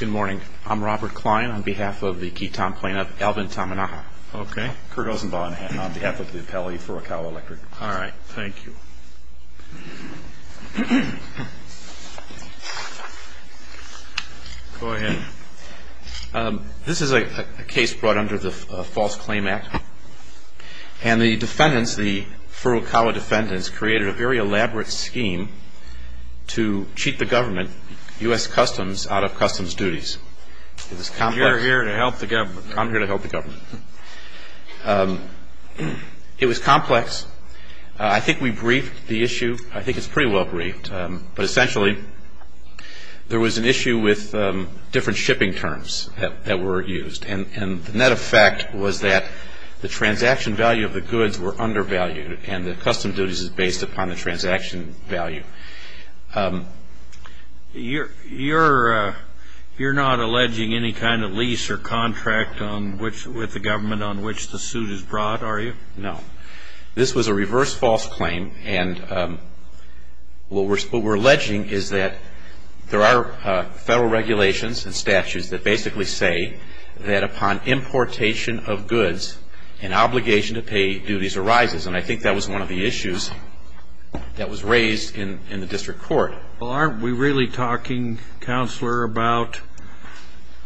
Good morning. I'm Robert Kline on behalf of the Ketam plaintiff, Alvin Tamanaha. Okay. Kurt Ozenbaugh on behalf of the appellee, Furukawa Electric. All right. Thank you. Go ahead. This is a case brought under the False Claim Act. And the defendants, the Furukawa defendants, created a very elaborate scheme to cheat the government, U.S. Customs, out of customs duties. It was complex. You're here to help the government. I'm here to help the government. It was complex. I think we briefed the issue. I think it's pretty well briefed. But essentially, there was an issue with different shipping terms that were used. And the net effect was that the transaction value of the goods were undervalued and the custom duties is based upon the transaction value. You're not alleging any kind of lease or contract with the government on which the suit is brought, are you? No. This was a reverse false claim. And what we're alleging is that there are federal regulations and statutes that basically say that upon importation of goods, an obligation to pay duties arises. And I think that was one of the issues that was raised in the district court. Well, aren't we really talking, Counselor, about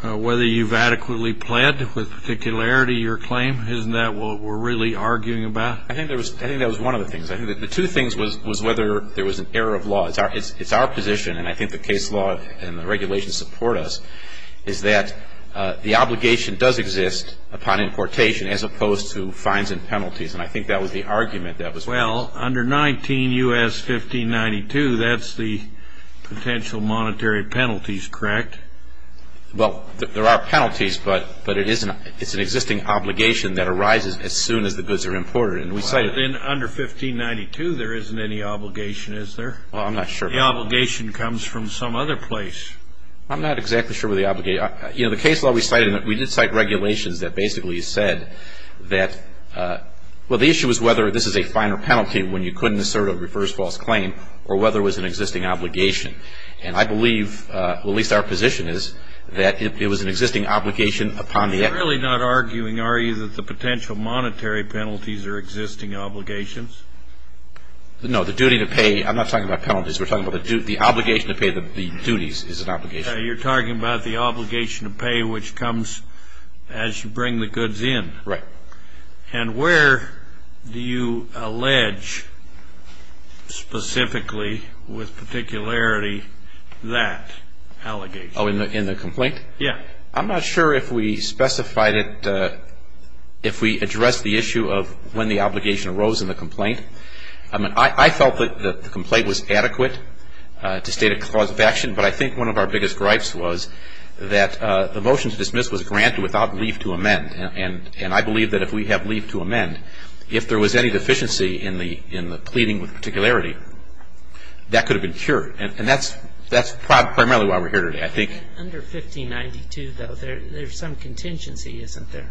whether you've adequately pled with particularity your claim? Isn't that what we're really arguing about? I think that was one of the things. I think the two things was whether there was an error of law. It's our position, and I think the case law and the regulations support us, is that the obligation does exist upon importation as opposed to fines and penalties. And I think that was the argument that was raised. Well, under 19 U.S. 1592, that's the potential monetary penalties, correct? Well, there are penalties, but it's an existing obligation that arises as soon as the goods are imported. Well, but then under 1592, there isn't any obligation, is there? Well, I'm not sure about that. The obligation comes from some other place. I'm not exactly sure where the obligation is. You know, the case law we cited, we did cite regulations that basically said that, well, the issue was whether this is a fine or penalty when you couldn't assert a reverse-false claim or whether it was an existing obligation. And I believe, at least our position is, that it was an existing obligation upon the exporter. You're really not arguing, are you, that the potential monetary penalties are existing obligations? No, the duty to pay. I'm not talking about penalties. We're talking about the obligation to pay the duties is an obligation. You're talking about the obligation to pay which comes as you bring the goods in. Right. And where do you allege specifically with particularity that allegation? Oh, in the complaint? Yeah. I'm not sure if we specified it, if we addressed the issue of when the obligation arose in the complaint. I mean, I felt that the complaint was adequate to state a cause of action, but I think one of our biggest gripes was that the motion to dismiss was granted without leave to amend. And I believe that if we have leave to amend, if there was any deficiency in the pleading with particularity, that could have been cured. And that's primarily why we're here today, I think. Under 1592, though, there's some contingency, isn't there?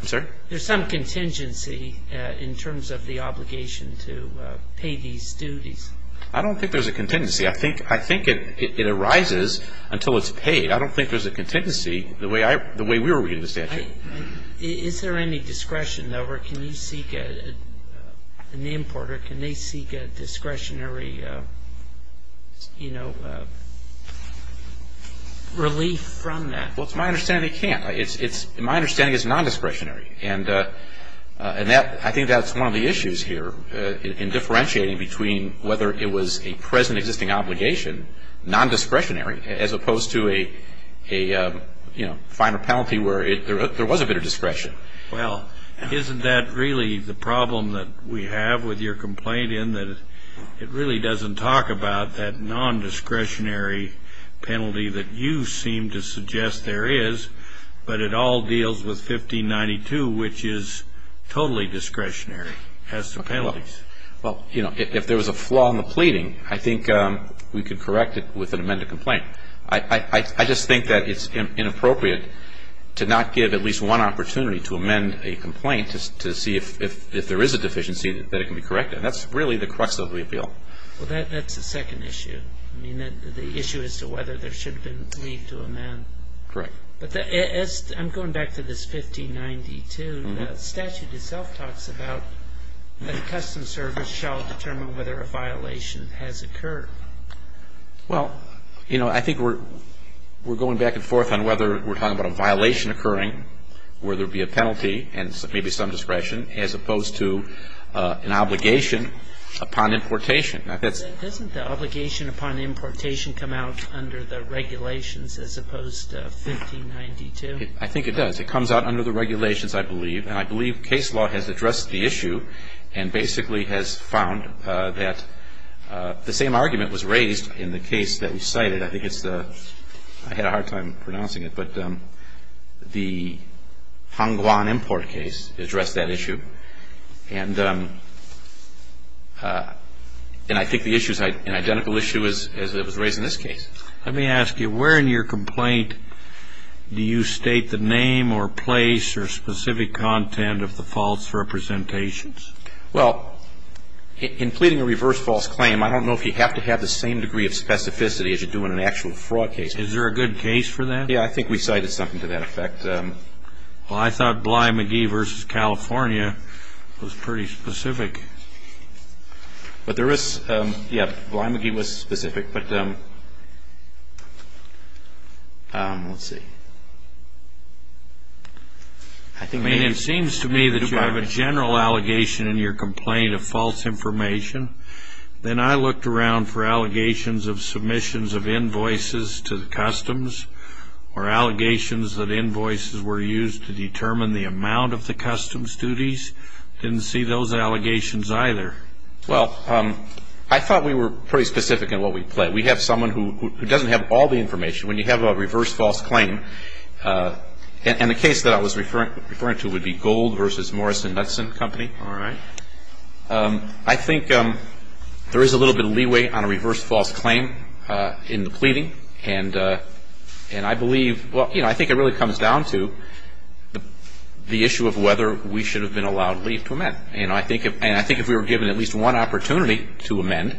I'm sorry? There's some contingency in terms of the obligation to pay these duties. I don't think there's a contingency. I think it arises until it's paid. I don't think there's a contingency the way we were reading the statute. Is there any discretion, though, or can you seek an importer, can they seek a discretionary, you know, relief from that? Well, it's my understanding they can't. It's my understanding it's nondiscretionary. And I think that's one of the issues here in differentiating between whether it was a present existing obligation, nondiscretionary, as opposed to a, you know, finer penalty where there was a bit of discretion. Well, isn't that really the problem that we have with your complaint in that it really doesn't talk about that nondiscretionary penalty that you seem to suggest there is, but it all deals with 1592, which is totally discretionary, has some penalties? Well, you know, if there was a flaw in the pleading, I think we could correct it with an amended complaint. I just think that it's inappropriate to not give at least one opportunity to amend a complaint to see if there is a deficiency, that it can be corrected. That's really the crux of the appeal. Well, that's the second issue. I mean, the issue is to whether there should have been relief to amend. Correct. But I'm going back to this 1592. The statute itself talks about that a custom service shall determine whether a violation has occurred. Well, you know, I think we're going back and forth on whether we're talking about a violation occurring where there would be a penalty and maybe some discretion, as opposed to an obligation upon importation. Doesn't the obligation upon importation come out under the regulations as opposed to 1592? I think it does. It comes out under the regulations, I believe. And I believe case law has addressed the issue and basically has found that the same argument was raised in the case that you cited. I think it's the – I had a hard time pronouncing it, but the Hongwan import case addressed that issue. And I think the issue is an identical issue as it was raised in this case. Let me ask you, where in your complaint do you state the name or place or specific content of the false representations? Well, in pleading a reverse false claim, I don't know if you have to have the same degree of specificity as you do in an actual fraud case. Is there a good case for that? Yeah, I think we cited something to that effect. Well, I thought Bly-McGee v. California was pretty specific. But there is – yeah, Bly-McGee was specific, but – let's see. I mean, it seems to me that you have a general allegation in your complaint of false information. Then I looked around for allegations of submissions of invoices to the customs or allegations that invoices were used to determine the amount of the customs duties. Didn't see those allegations either. Well, I thought we were pretty specific in what we pledged. We have someone who doesn't have all the information. When you have a reverse false claim – and the case that I was referring to would be Gold v. Morris & Knutson Company. All right. I think there is a little bit of leeway on a reverse false claim in the pleading. And I believe – well, you know, I think it really comes down to the issue of whether we should have been allowed leave to amend. And I think if we were given at least one opportunity to amend,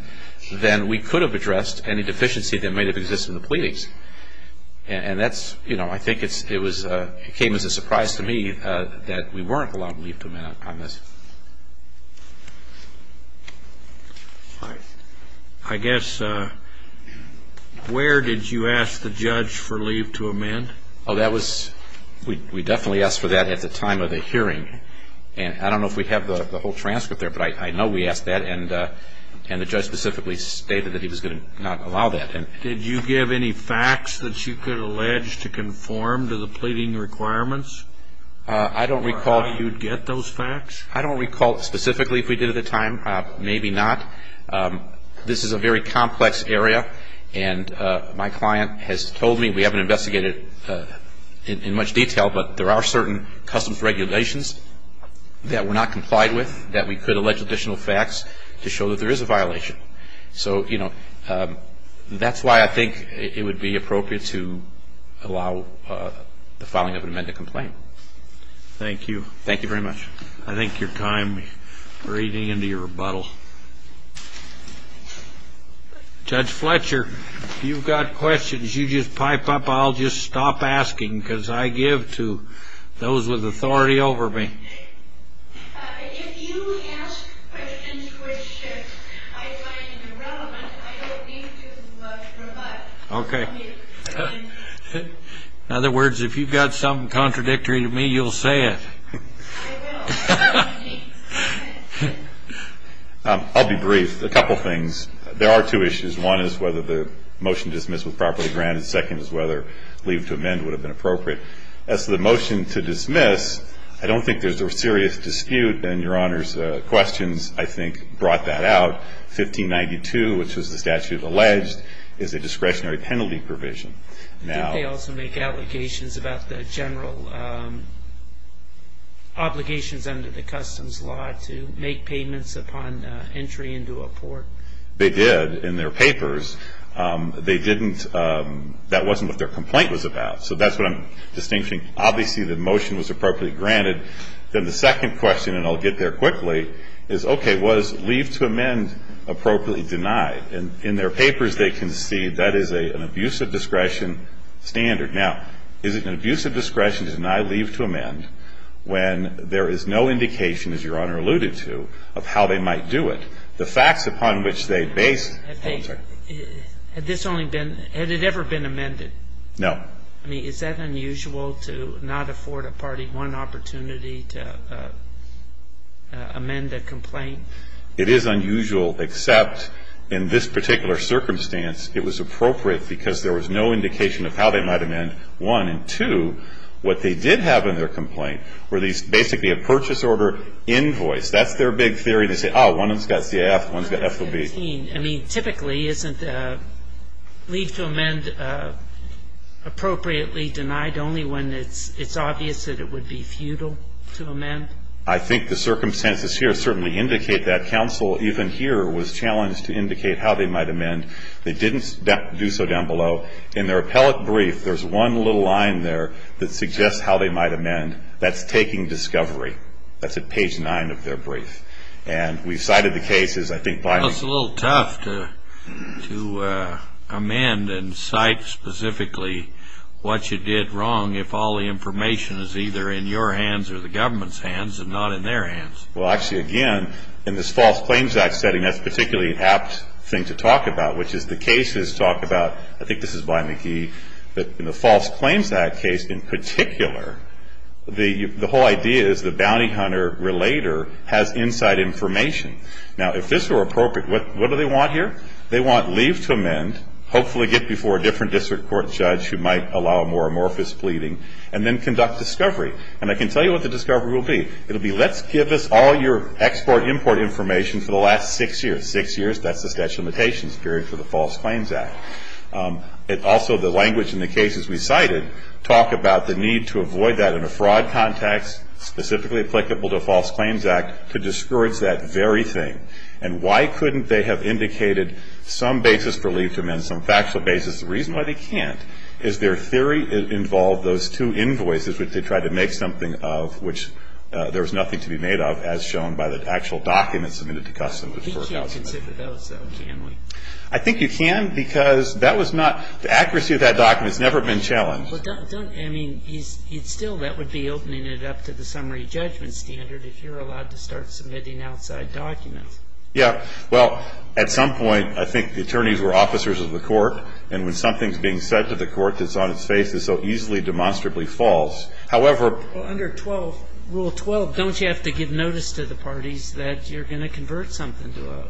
then we could have addressed any deficiency that might have existed in the pleadings. And that's – you know, I think it came as a surprise to me that we weren't allowed leave to amend on this. All right. I guess – where did you ask the judge for leave to amend? Oh, that was – we definitely asked for that at the time of the hearing. And I don't know if we have the whole transcript there, but I know we asked that. And the judge specifically stated that he was going to not allow that. Did you give any facts that you could allege to conform to the pleading requirements? I don't recall – Or how you'd get those facts? I don't recall specifically if we did at the time. Maybe not. This is a very complex area. And my client has told me – we haven't investigated in much detail, but there are certain customs regulations that were not complied with that we could allege additional facts to show that there is a violation. So, you know, that's why I think it would be appropriate to allow the filing of an amended complaint. Thank you. Thank you very much. I thank your time. We're eating into your rebuttal. Judge Fletcher, if you've got questions, you just pipe up. I'll just stop asking because I give to those with authority over me. If you ask questions which I find irrelevant, I don't mean to rebut. Okay. In other words, if you've got something contradictory to me, you'll say it. I will. I'll be brief. A couple things. There are two issues. One is whether the motion dismissed was properly granted. Second is whether leave to amend would have been appropriate. As to the motion to dismiss, I don't think there's a serious dispute. And your Honor's questions, I think, brought that out. 1592, which was the statute alleged, is a discretionary penalty provision. Did they also make allegations about the general obligations under the customs law to make payments upon entry into a port? They did in their papers. They didn't – that wasn't what their complaint was about. So that's what I'm distincting. Obviously, the motion was appropriately granted. Then the second question, and I'll get there quickly, is, okay, was leave to amend appropriately denied? And in their papers, they concede that is an abuse of discretion standard. Now, is it an abuse of discretion to deny leave to amend when there is no indication, as Your Honor alluded to, of how they might do it? The facts upon which they based – Had this only been – had it ever been amended? No. I mean, is that unusual to not afford a party one opportunity to amend a complaint? It is unusual, except in this particular circumstance, it was appropriate because there was no indication of how they might amend, one. And, two, what they did have in their complaint were these – basically a purchase order invoice. That's their big theory. They say, oh, one of them's got CAF, one's got FOB. I mean, typically, isn't leave to amend appropriately denied only when it's obvious that it would be futile to amend? I think the circumstances here certainly indicate that. Counsel, even here, was challenged to indicate how they might amend. They didn't do so down below. In their appellate brief, there's one little line there that suggests how they might amend. That's taking discovery. That's at page 9 of their brief. And we've cited the cases. Well, it's a little tough to amend and cite specifically what you did wrong if all the information is either in your hands or the government's hands and not in their hands. Well, actually, again, in this False Claims Act setting, that's particularly an apt thing to talk about, which is the cases talk about – I think this is by McGee – that in the False Claims Act case in particular, the whole idea is the bounty hunter-relator has inside information. Now, if this were appropriate, what do they want here? They want leave to amend, hopefully get before a different district court judge who might allow a more amorphous pleading, and then conduct discovery. And I can tell you what the discovery will be. It will be, let's give us all your export-import information for the last six years. Six years, that's the statute of limitations period for the False Claims Act. Also, the language in the cases we cited talk about the need to avoid that in a fraud context, specifically applicable to a False Claims Act, to discourage that very thing. And why couldn't they have indicated some basis for leave to amend, some factual basis? The reason why they can't is their theory involved those two invoices, which they tried to make something of which there was nothing to be made of, as shown by the actual documents submitted to Customs. We can't consider those, though, can we? I think you can, because that was not – the accuracy of that document has never been challenged. But don't – I mean, it's still – that would be opening it up to the summary judgment standard if you're allowed to start submitting outside documents. Yeah. Well, at some point, I think the attorneys were officers of the court, and when something's being said to the court that's on its face, it so easily demonstrably falls. However – Well, under Rule 12, don't you have to give notice to the parties that you're going to convert something to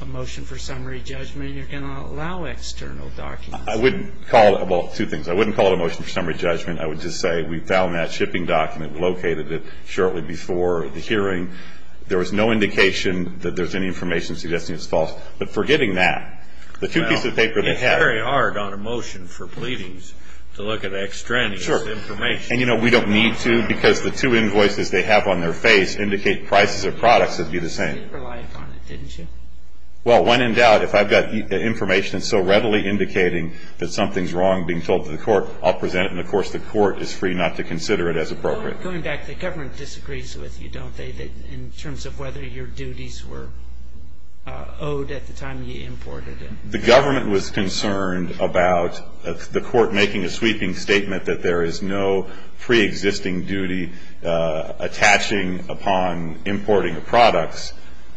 a motion for summary judgment, and you're going to allow external documents? I wouldn't call it – well, two things. I wouldn't call it a motion for summary judgment. I would just say we found that shipping document, located it shortly before the hearing. There was no indication that there's any information suggesting it's false. But forgetting that, the two pieces of paper they had – Well, it's very hard on a motion for pleadings to look at extraneous information. Sure. And, you know, we don't need to, because the two invoices they have on their face indicate prices of products would be the same. But you did rely upon it, didn't you? Well, when in doubt, if I've got information that's so readily indicating that something's wrong being told to the court, I'll present it. And, of course, the court is free not to consider it as appropriate. Going back, the government disagrees with you, don't they, in terms of whether your duties were owed at the time you imported it? The government was concerned about the court making a sweeping statement that there is no preexisting duty attaching upon importing of products.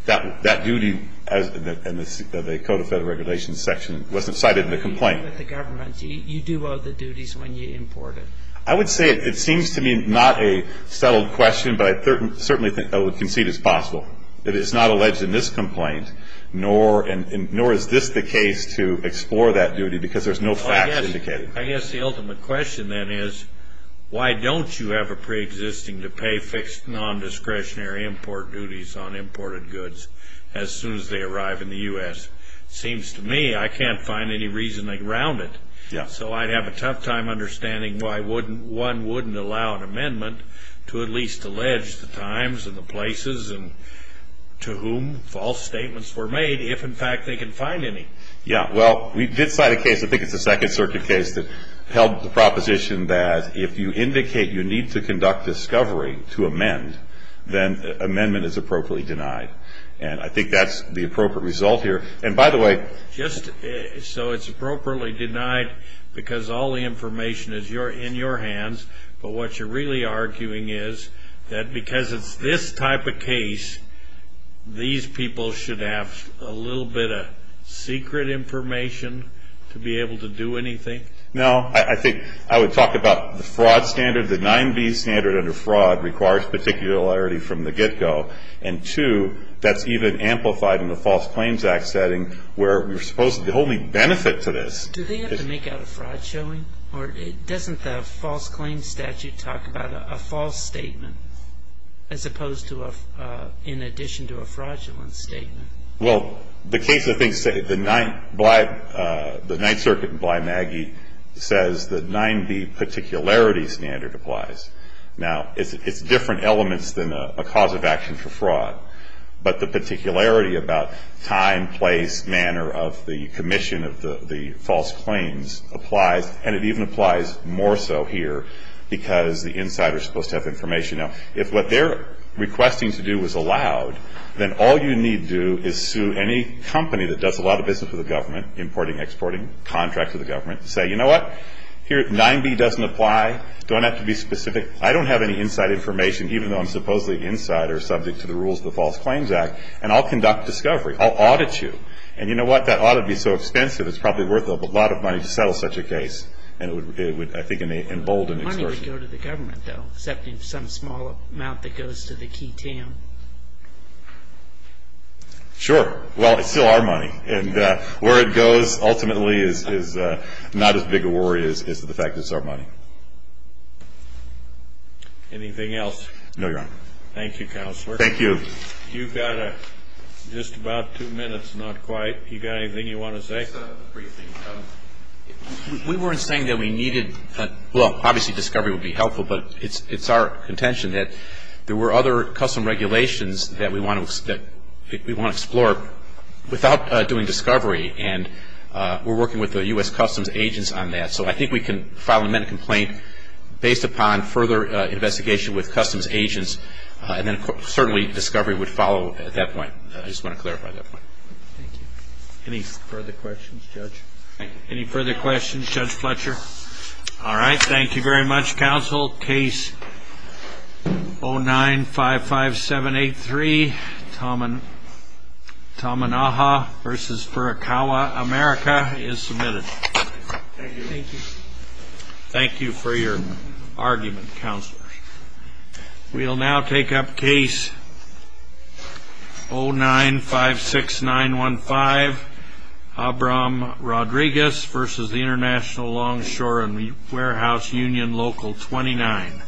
That duty in the Code of Federal Regulations section wasn't cited in the complaint. You do owe the duties when you import it. I would say it seems to me not a settled question, but I certainly concede it's possible. It is not alleged in this complaint, nor is this the case, to explore that duty because there's no facts indicated. I guess the ultimate question, then, is why don't you have a preexisting to pay fixed non-discretionary import duties on imported goods as soon as they arrive in the U.S.? It seems to me I can't find any reason to ground it, so I'd have a tough time understanding why one wouldn't allow an amendment to at least allege the times and the places to whom false statements were made if, in fact, they can find any. Yeah, well, we did cite a case, I think it's a Second Circuit case, that held the proposition that if you indicate you need to conduct discovery to amend, then amendment is appropriately denied. And I think that's the appropriate result here. And, by the way, just so it's appropriately denied because all the information is in your hands, but what you're really arguing is that because it's this type of case, these people should have a little bit of secret information to be able to do anything? No, I think I would talk about the fraud standard. And, two, that's even amplified in the False Claims Act setting where we're supposed to only benefit to this. Do they have to make out a fraud showing? Or doesn't the False Claims Statute talk about a false statement as opposed to in addition to a fraudulent statement? Well, the case, I think, the Ninth Circuit in Bly Maggie says the 9B particularity standard applies. Now, it's different elements than a cause of action for fraud, but the particularity about time, place, manner of the commission of the false claims applies, and it even applies more so here because the insider is supposed to have information. Now, if what they're requesting to do is allowed, then all you need to do is sue any company that does a lot of business with the government, importing, exporting, contracts with the government, and say, you know what? Here, 9B doesn't apply. Don't have to be specific. I don't have any inside information, even though I'm supposedly insider, subject to the rules of the False Claims Act, and I'll conduct discovery. I'll audit you. And you know what? That audit would be so expensive, it's probably worth a lot of money to settle such a case. And it would, I think, embolden experts. The money would go to the government, though, except in some small amount that goes to the key team. Sure. Well, it's still our money. And where it goes ultimately is not as big a worry as the fact that it's our money. Anything else? No, Your Honor. Thank you, Counselor. Thank you. You've got just about two minutes, not quite. You got anything you want to say? We weren't saying that we needed, well, obviously discovery would be helpful, but it's our contention that there were other custom regulations that we want to explore. Without doing discovery, and we're working with the U.S. Customs agents on that, so I think we can file an amendment complaint based upon further investigation with customs agents, and then certainly discovery would follow at that point. I just want to clarify that point. Thank you. Any further questions, Judge? Any further questions, Judge Fletcher? All right. Thank you very much, Counsel. Case 0955783, Tamanaha v. Furukawa, America, is submitted. Thank you. Thank you for your argument, Counselor. We will now take up case 0956915, Abram Rodriguez v. International Longshore and Warehouse Union Local 29.